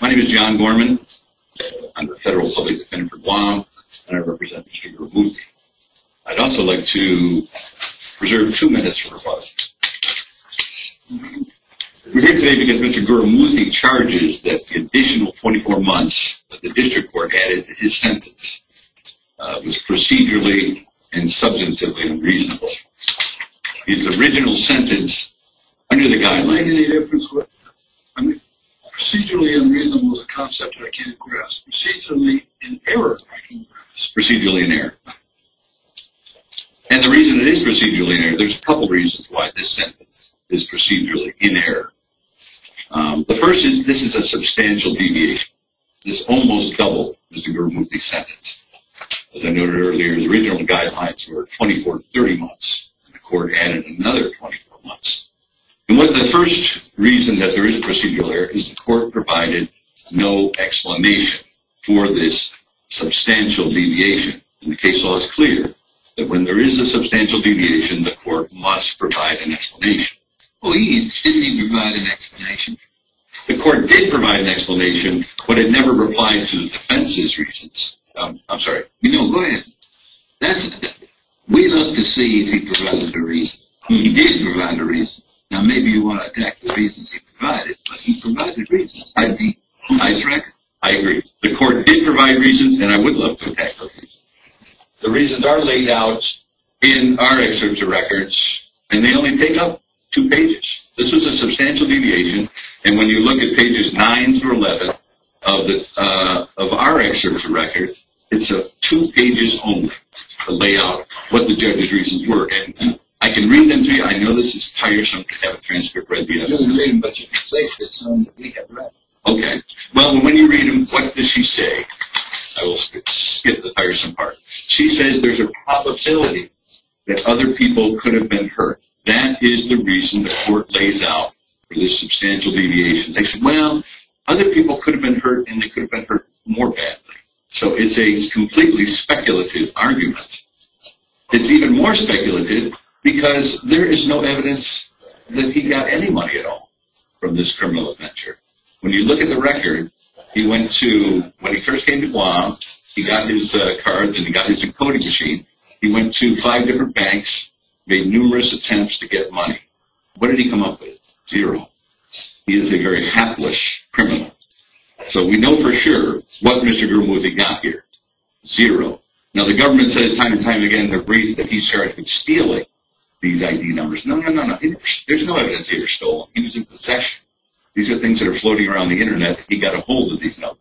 My name is John Gorman, I'm a Federal Public Defender for Guam, and I represent Mr. Gurumoorthy. I'd also like to preserve a few minutes for rebuttal. We're here today because Mr. Gurumoorthy charges that the additional 24 months that the District Court added to his sentence was procedurally and substantively unreasonable. His original sentence under the guidelines... I mean, procedurally unreasonable is a concept that I can't grasp. Procedurally in error I can grasp. Procedurally in error. And the reason it is procedurally in error, there's a couple reasons why this sentence is procedurally in error. The first is this is a substantial deviation. It's almost double Mr. Gurumoorthy's sentence. As I noted earlier, his original guidelines were 24 to 30 months, and the court added another 24 months. And the first reason that there is procedural error is the court provided no explanation for this substantial deviation. And the case law is clear that when there is a substantial deviation, the court must provide an explanation. Well, he instinctively provided an explanation. The court did provide an explanation, but it never replied to the defense's reasons. I'm sorry. No, go ahead. We'd love to see if he provided a reason. He did provide a reason. Now, maybe you want to attack the reasons he provided, but he provided reasons. I think it's a nice record. I agree. The court did provide reasons, and I would love to attack the reasons. The reasons are laid out in our excerpt of records, and they only take up two pages. This is a substantial deviation, and when you look at pages 9 through 11 of our excerpt of records, it's two pages only to lay out what the judge's reasons were. And I can read them to you. I know this is tiresome to have a transcript read to you. You can read them, but you can say for yourself that we have read them. Okay. Well, when you read them, what does she say? I will skip the tiresome part. She says there's a probability that other people could have been hurt. That is the reason the court lays out the substantial deviations. They say, well, other people could have been hurt, and they could have been hurt more badly. So it's a completely speculative argument. It's even more speculative because there is no evidence that he got any money at all from this criminal adventure. When you look at the record, he went to, when he first came to Guam, he got his card, and he got his encoding machine. He went to five different banks, made numerous attempts to get money. What did he come up with? Zero. He is a very hapless criminal. So we know for sure what Mr. Groom was he got here. Zero. Now, the government says time and time again that he started stealing these ID numbers. No, no, no, no. There's no evidence he ever stole them. He was in possession. These are things that are floating around the Internet. He got a hold of these numbers.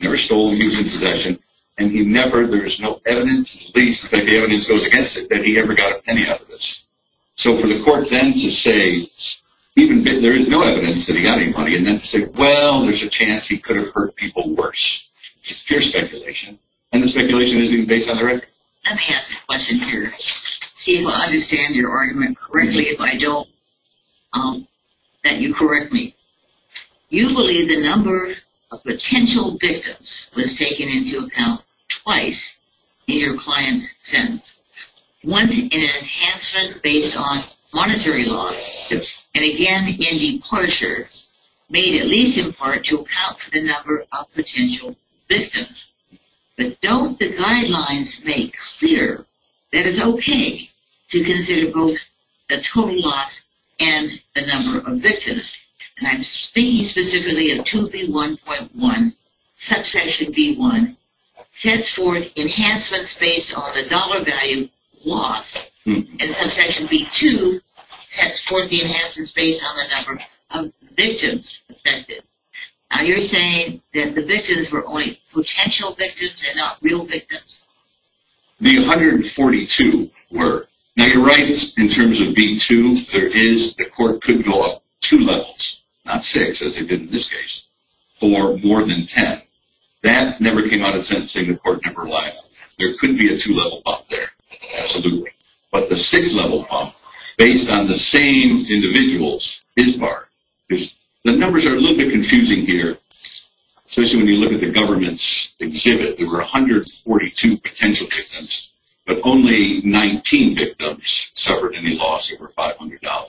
Never stole them. He was in possession. And he never, there is no evidence, at least if the evidence goes against it, that he ever got any evidence. So for the court then to say, even if there is no evidence that he got any money, and then to say, well, there's a chance he could have hurt people worse. It's pure speculation. And the speculation isn't even based on the record. Let me ask a question here. See if I understand your argument correctly. If I don't, then you correct me. You believe the number of potential victims was taken into account twice in your client's sentence. Once in an enhancement based on monetary loss. And again in departure made at least in part to account for the number of potential victims. But don't the guidelines make clear that it's okay to consider both the total loss and the number of victims? And I'm speaking specifically of 2B1.1, subsection B1, sets forth enhancements based on the dollar value loss. And subsection B2 sets forth the enhancements based on the number of victims affected. Now you're saying that the victims were only potential victims and not real victims? The 142 were. Now you're right in terms of B2. There is, the court could go up two levels, not six as they did in this case, for more than 10. That never came out of sentencing. The court never relied on that. There could be a two-level bump there. Absolutely. But the six-level bump based on the same individuals is hard. The numbers are a little bit confusing here, especially when you look at the government's exhibit. There were 142 potential victims, but only 19 victims suffered any loss over $500.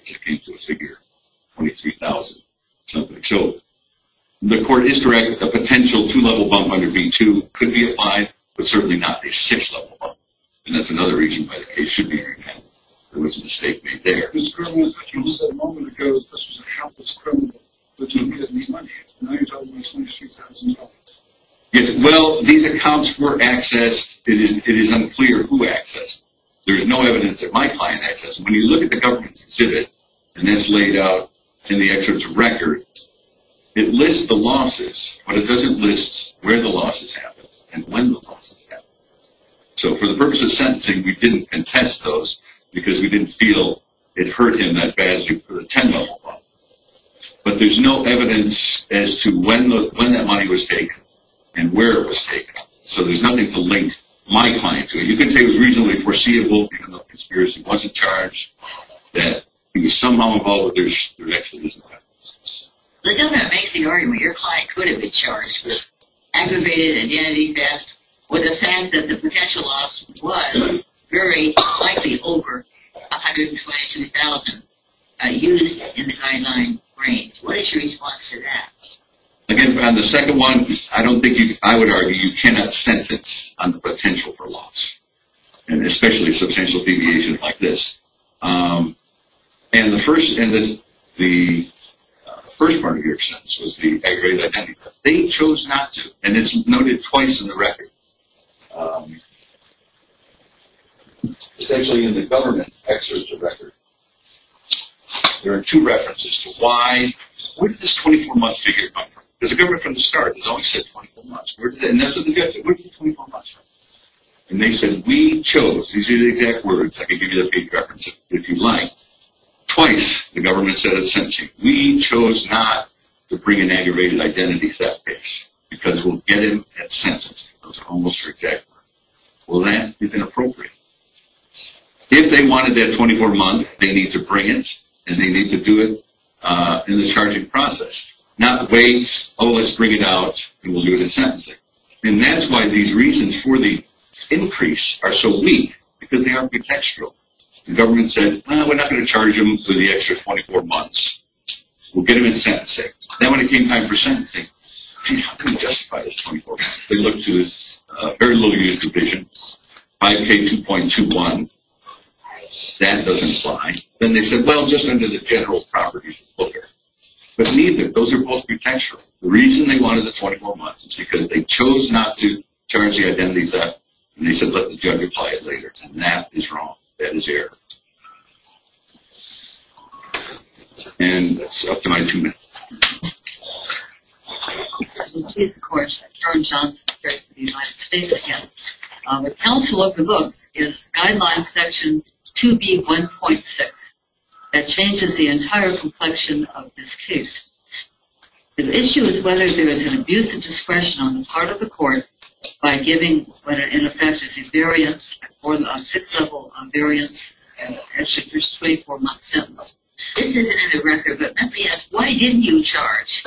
It came to a figure of $23,000-something. So the court is correct. A potential two-level bump under B2 could be applied, but certainly not a six-level bump. And that's another reason why the case should be re-enacted. There was a mistake made there. The problem is that you said a moment ago that this was a helpless criminal that didn't get any money. Now you're talking about $23,000. Well, these accounts were accessed. It is unclear who accessed them. There's no evidence that my client accessed them. When you look at the government's exhibit, and that's laid out in the excerpt's record, it lists the losses, but it doesn't list where the losses happened and when the losses happened. So for the purpose of sentencing, we didn't contest those because we didn't feel it hurt him that badly for the 10-level bump. But there's no evidence as to when that money was taken and where it was taken. So there's nothing to link my client to. And you can say it was reasonably foreseeable, even though conspiracy wasn't charged, that it was somehow involved, but there actually was no evidence. But don't make the argument your client could have been charged with aggravated identity theft with the fact that the potential loss was very likely over $120,000 used in the guideline range. What is your response to that? Again, on the second one, I would argue you cannot sentence on the potential for loss, and especially substantial deviations like this. The first part of your sentence was the aggravated identity theft. They chose not to, and it's noted twice in the record. It's actually in the government's excerpt of the record. There are two references to why. Where did this 24-month figure come from? Because the government from the start has always said 24 months. And that's what the judge said, where did the 24 months come from? And they said, we chose. These are the exact words. I can give you the page reference if you'd like. Twice the government said a sentencing. We chose not to bring an aggravated identity theft case because we'll get him at sentencing. Those are almost exact words. Well, that is inappropriate. If they wanted that 24 months, they need to bring it, and they need to do it in the charging process. Not wait, oh, let's bring it out, and we'll do it at sentencing. And that's why these reasons for the increase are so weak, because they are potential. The government said, well, we're not going to charge him for the extra 24 months. We'll get him at sentencing. Then when it came time for sentencing, how can we justify this 24 months? They looked to this very low-use provision, 5K2.21. That doesn't apply. Then they said, well, just under the general properties of the booker. But neither, those are both potential. The reason they wanted the 24 months is because they chose not to charge the identity theft. And they said, let the judge apply it later. And that is wrong. That is error. And that's up to my two minutes. I'm the Chief's Court. Karen Johnson here for the United States again. The counsel of the books is Guidelines Section 2B1.6. That changes the entire complexion of this case. The issue is whether there is an abuse of discretion on the part of the court by giving what are, in effect, what is referred to as a variance or a sixth-level variance, an extra 24-month sentence. This isn't in the record. But let me ask, why didn't you charge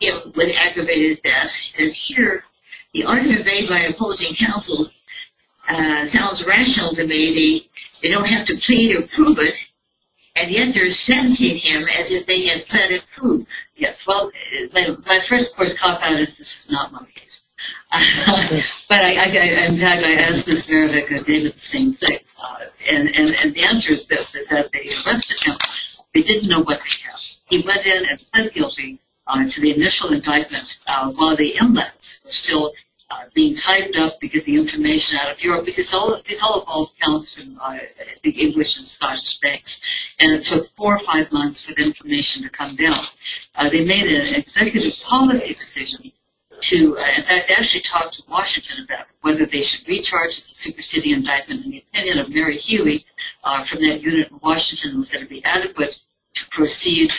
him with aggravated theft? Because here the argument made by opposing counsel sounds rational to me. They don't have to plead or prove it. And yet they're sentencing him as if they had planned to prove. Yes, well, my first course caught on this. This is not my case. But, in fact, I asked Ms. Marovic and they did the same thing. And the answer is this. It's that they arrested him. They didn't know what they had. He went in and pled guilty to the initial indictment while the inmates were still being typed up to get the information out of Europe. Because these all have all accounts from the English and Scottish banks. And it took four or five months for the information to come down. They made an executive policy decision to, in fact, actually talk to Washington about whether they should recharge the superseding indictment. And the opinion of Mary Healy from that unit in Washington was that it would be adequate to proceed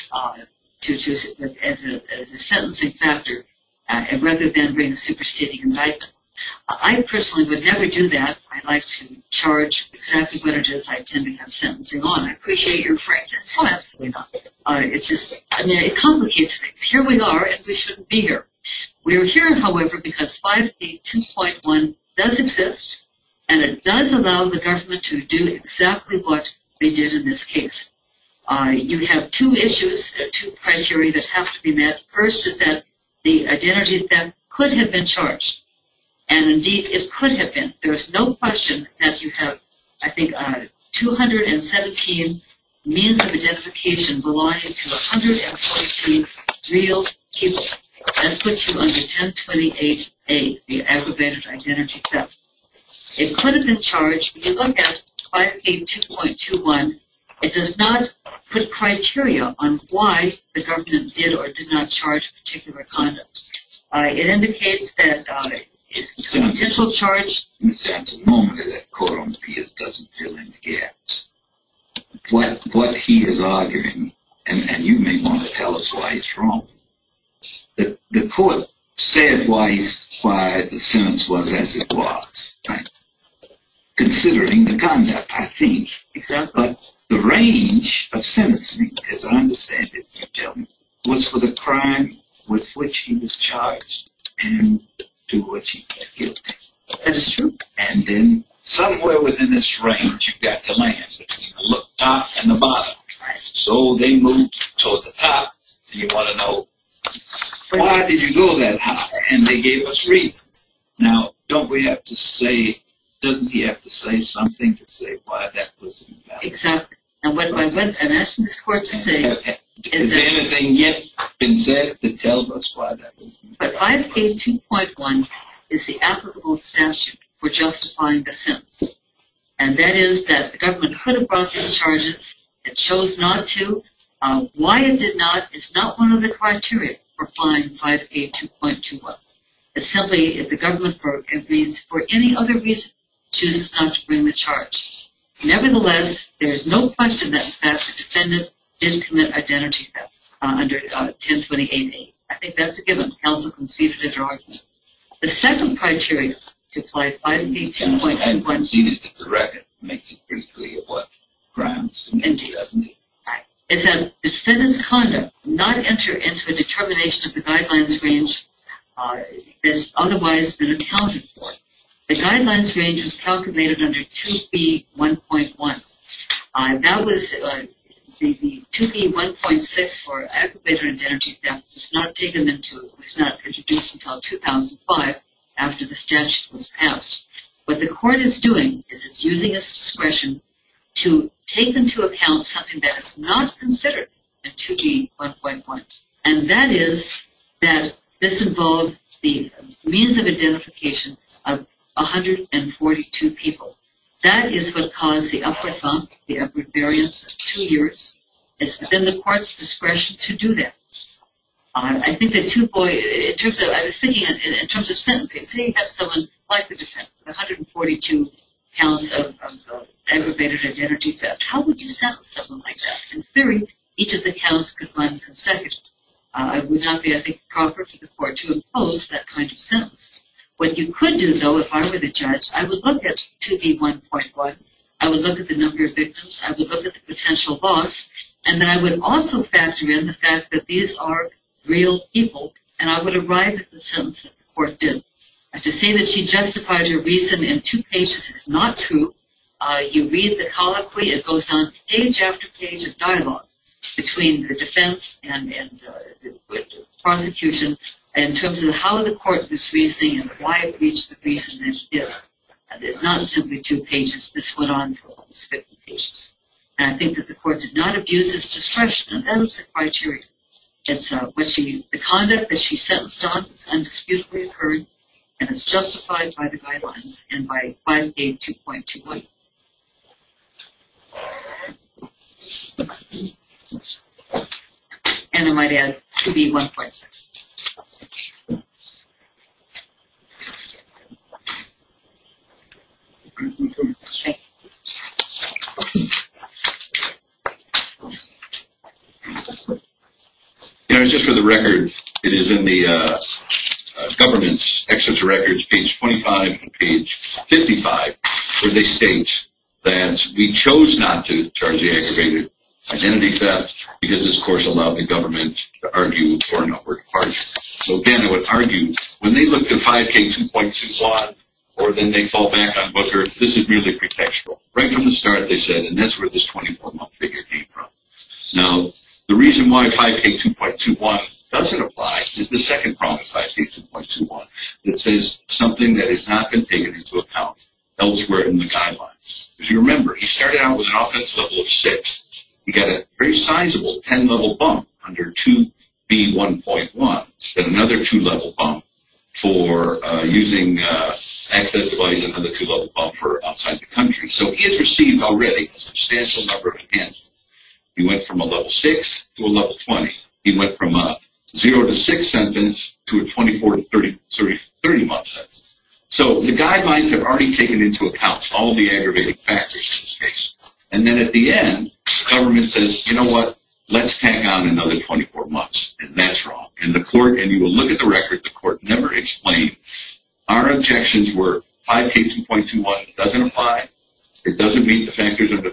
as a sentencing factor rather than bring superseding indictment. I personally would never do that. I like to charge exactly what it is I intend to have sentencing on. I appreciate your frankness. Oh, absolutely not. It complicates things. Here we are and we shouldn't be here. We are here, however, because 5A2.1 does exist and it does allow the government to do exactly what they did in this case. You have two issues, two criteria that have to be met. First is that the identities that could have been charged. And, indeed, it could have been. There is no question that you have, I think, 217 means of identification belonging to 114 real people. That puts you under 1028A, the aggravated identity theft. It could have been charged. If you look at 5A2.21, it does not put criteria on why the government did or did not charge a particular conduct. It indicates that it is a potential charge. Ms. Jansen, the moment that the court appears doesn't fill in the gaps. What he is arguing, and you may want to tell us why it's wrong, the court said why the sentence was as it was, right? Considering the conduct, I think. Exactly. The range of sentencing, as I understand it, you tell me, was for the crime with which he was charged and to which he got guilty. That is true. And then somewhere within this range, you've got the line between the top and the bottom. So they moved towards the top. You want to know why did you go that high? And they gave us reasons. Now, doesn't he have to say something to say why that was invalid? Exactly. And what I'm asking this court to say is that 5A2.1 is the applicable statute for justifying the sentence. And that is that the government could have brought these charges. It chose not to. Why it did not is not one of the criteria for filing 5A2.21. It's simply that the government, for any other reason, chooses not to bring the charge. Nevertheless, there is no question that the defendant did commit identity theft under 102088. I think that's a given. Counsel can see if it's an argument. The second criteria to apply 5A2.21 is that the defendant's conduct did not enter into a determination of the guidelines range that has otherwise been accounted for. The guidelines range was calculated under 2B1.1. That was 2B1.6 for aggravator and identity theft. It was not introduced until 2005 after the statute was passed. What the court is doing is it's using its discretion to take into account something that is not considered in 2B1.1. And that is that this involved the means of identification of 142 people. That is what caused the upward bump, the upward variance of two years. It's been the court's discretion to do that. I think that 2... I was thinking in terms of sentencing. Say you have someone like the defendant with 142 counts of aggravated identity theft. How would you sentence someone like that? In theory, each of the counts could run consecutively. It would not be, I think, proper for the court to impose that kind of sentence. What you could do, though, if I were the judge, I would look at 2B1.1. I would look at the number of victims. I would look at the potential loss. And then I would also factor in the fact that these are real people, and I would arrive at the sentence that the court did. To say that she justified her reason in two pages is not true. You read the colloquy. It goes on page after page of dialogue between the defense and the prosecution in terms of how the court was reasoning and why it reached the reason it did. It is not simply two pages. This went on for almost 50 pages. And I think that the court did not abuse its discretion. That is the criteria. The conduct that she sentenced on is undisputably heard and is justified by the guidelines and by 5A2.20. And I might add 2B1.6. You know, just for the record, it is in the government's excerpt to records, page 25 and page 55, where they state that we chose not to charge the aggravated identity theft because this court allowed the government to argue for a number of parties. So, again, I would argue, when they look to 5A2.21 or then they fall back on Booker, this is merely pretextual. Right from the start, they said, and that's where this 24-month figure came from. Now, the reason why 5A2.21 doesn't apply is the second prong of 5A2.21. It says something that has not been taken into account elsewhere in the guidelines. If you remember, he started out with an offense level of six. He got a very sizable 10-level bump under 2B1.1. Then another two-level bump for using an access device and another two-level bump for outside the country. So, he has received already a substantial number of enhancements. He went from a level six to a level 20. He went from a zero to six sentence to a 24 to 30-month sentence. So, the guidelines have already taken into account all the aggravated factors in this case. And then at the end, the government says, you know what, let's tack on another 24 months. And that's wrong. And the court, and you will look at the record, the court never explained. Our objections were 5A2.21. It doesn't apply. It doesn't meet the factors under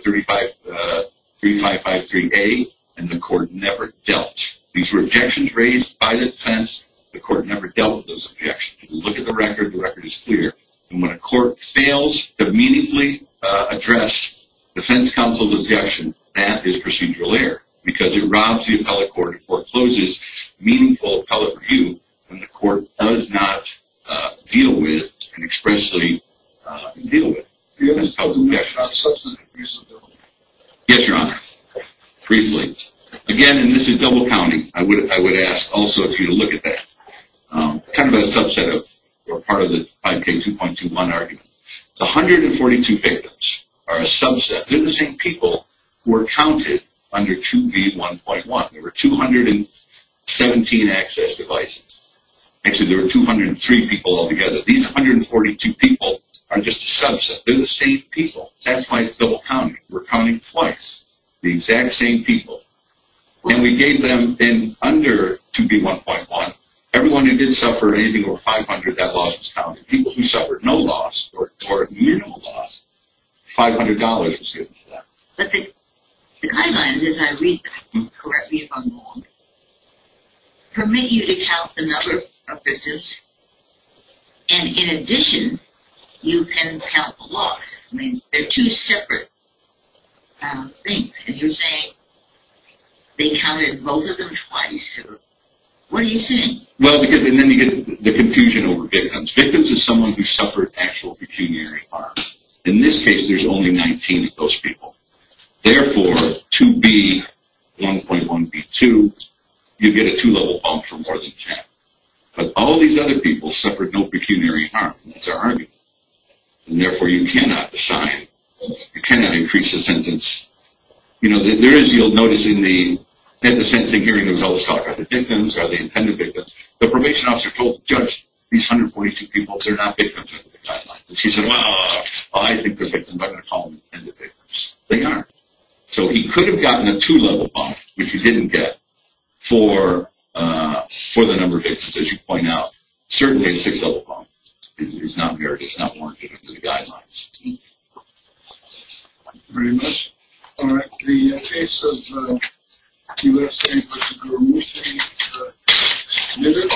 3553A. And the court never dealt. These were objections raised by the defense. The court never dealt with those objections. If you look at the record, the record is clear. And when a court fails to meaningfully address defense counsel's objection, that is procedural error because it robs the appellate court and forecloses meaningful appellate review when the court does not deal with and expressly deal with the defense counsel's objection. Yes, Your Honor, briefly. Again, and this is double-counting. I would ask also for you to look at that. Kind of a subset or part of the 5A2.21 argument. The 142 victims are a subset. They're the same people who were counted under 2B1.1. There were 217 access devices. Actually, there were 203 people altogether. These 142 people are just a subset. They're the same people. That's why it's double-counting. We're counting twice the exact same people. And we gave them, under 2B1.1, everyone who did suffer anything over 500, that loss was counted. People who suffered no loss or minimal loss, $500 was given to them. But the guidelines, as I read them correctly if I'm wrong, permit you to count the number of victims. And in addition, you can count the loss. I mean, they're two separate things. And you're saying they counted both of them twice. What are you saying? Well, because then you get the confusion over victims. Victims are someone who suffered actual pecuniary harm. In this case, there's only 19 of those people. Therefore, 2B1.1.B2, you get a two-level bump for more than 10. But all these other people suffered no pecuniary harm. That's our argument. And therefore, you cannot decide. You cannot increase the sentence. You know, there is, you'll notice in the sentencing hearing, there was always talk about the victims or the intended victims. The probation officer told the judge, these 142 people, they're not victims under the guidelines. And she said, well, I think they're victims. I'm not going to call them intended victims. They aren't. So he could have gotten a two-level bump, which he didn't get, for the number of victims, as you point out. Certainly, a six-level bump is not warranted under the guidelines. Thank you. Thank you very much. All right. The case of the U.S. Supreme Court Supreme Court remotion is submitted.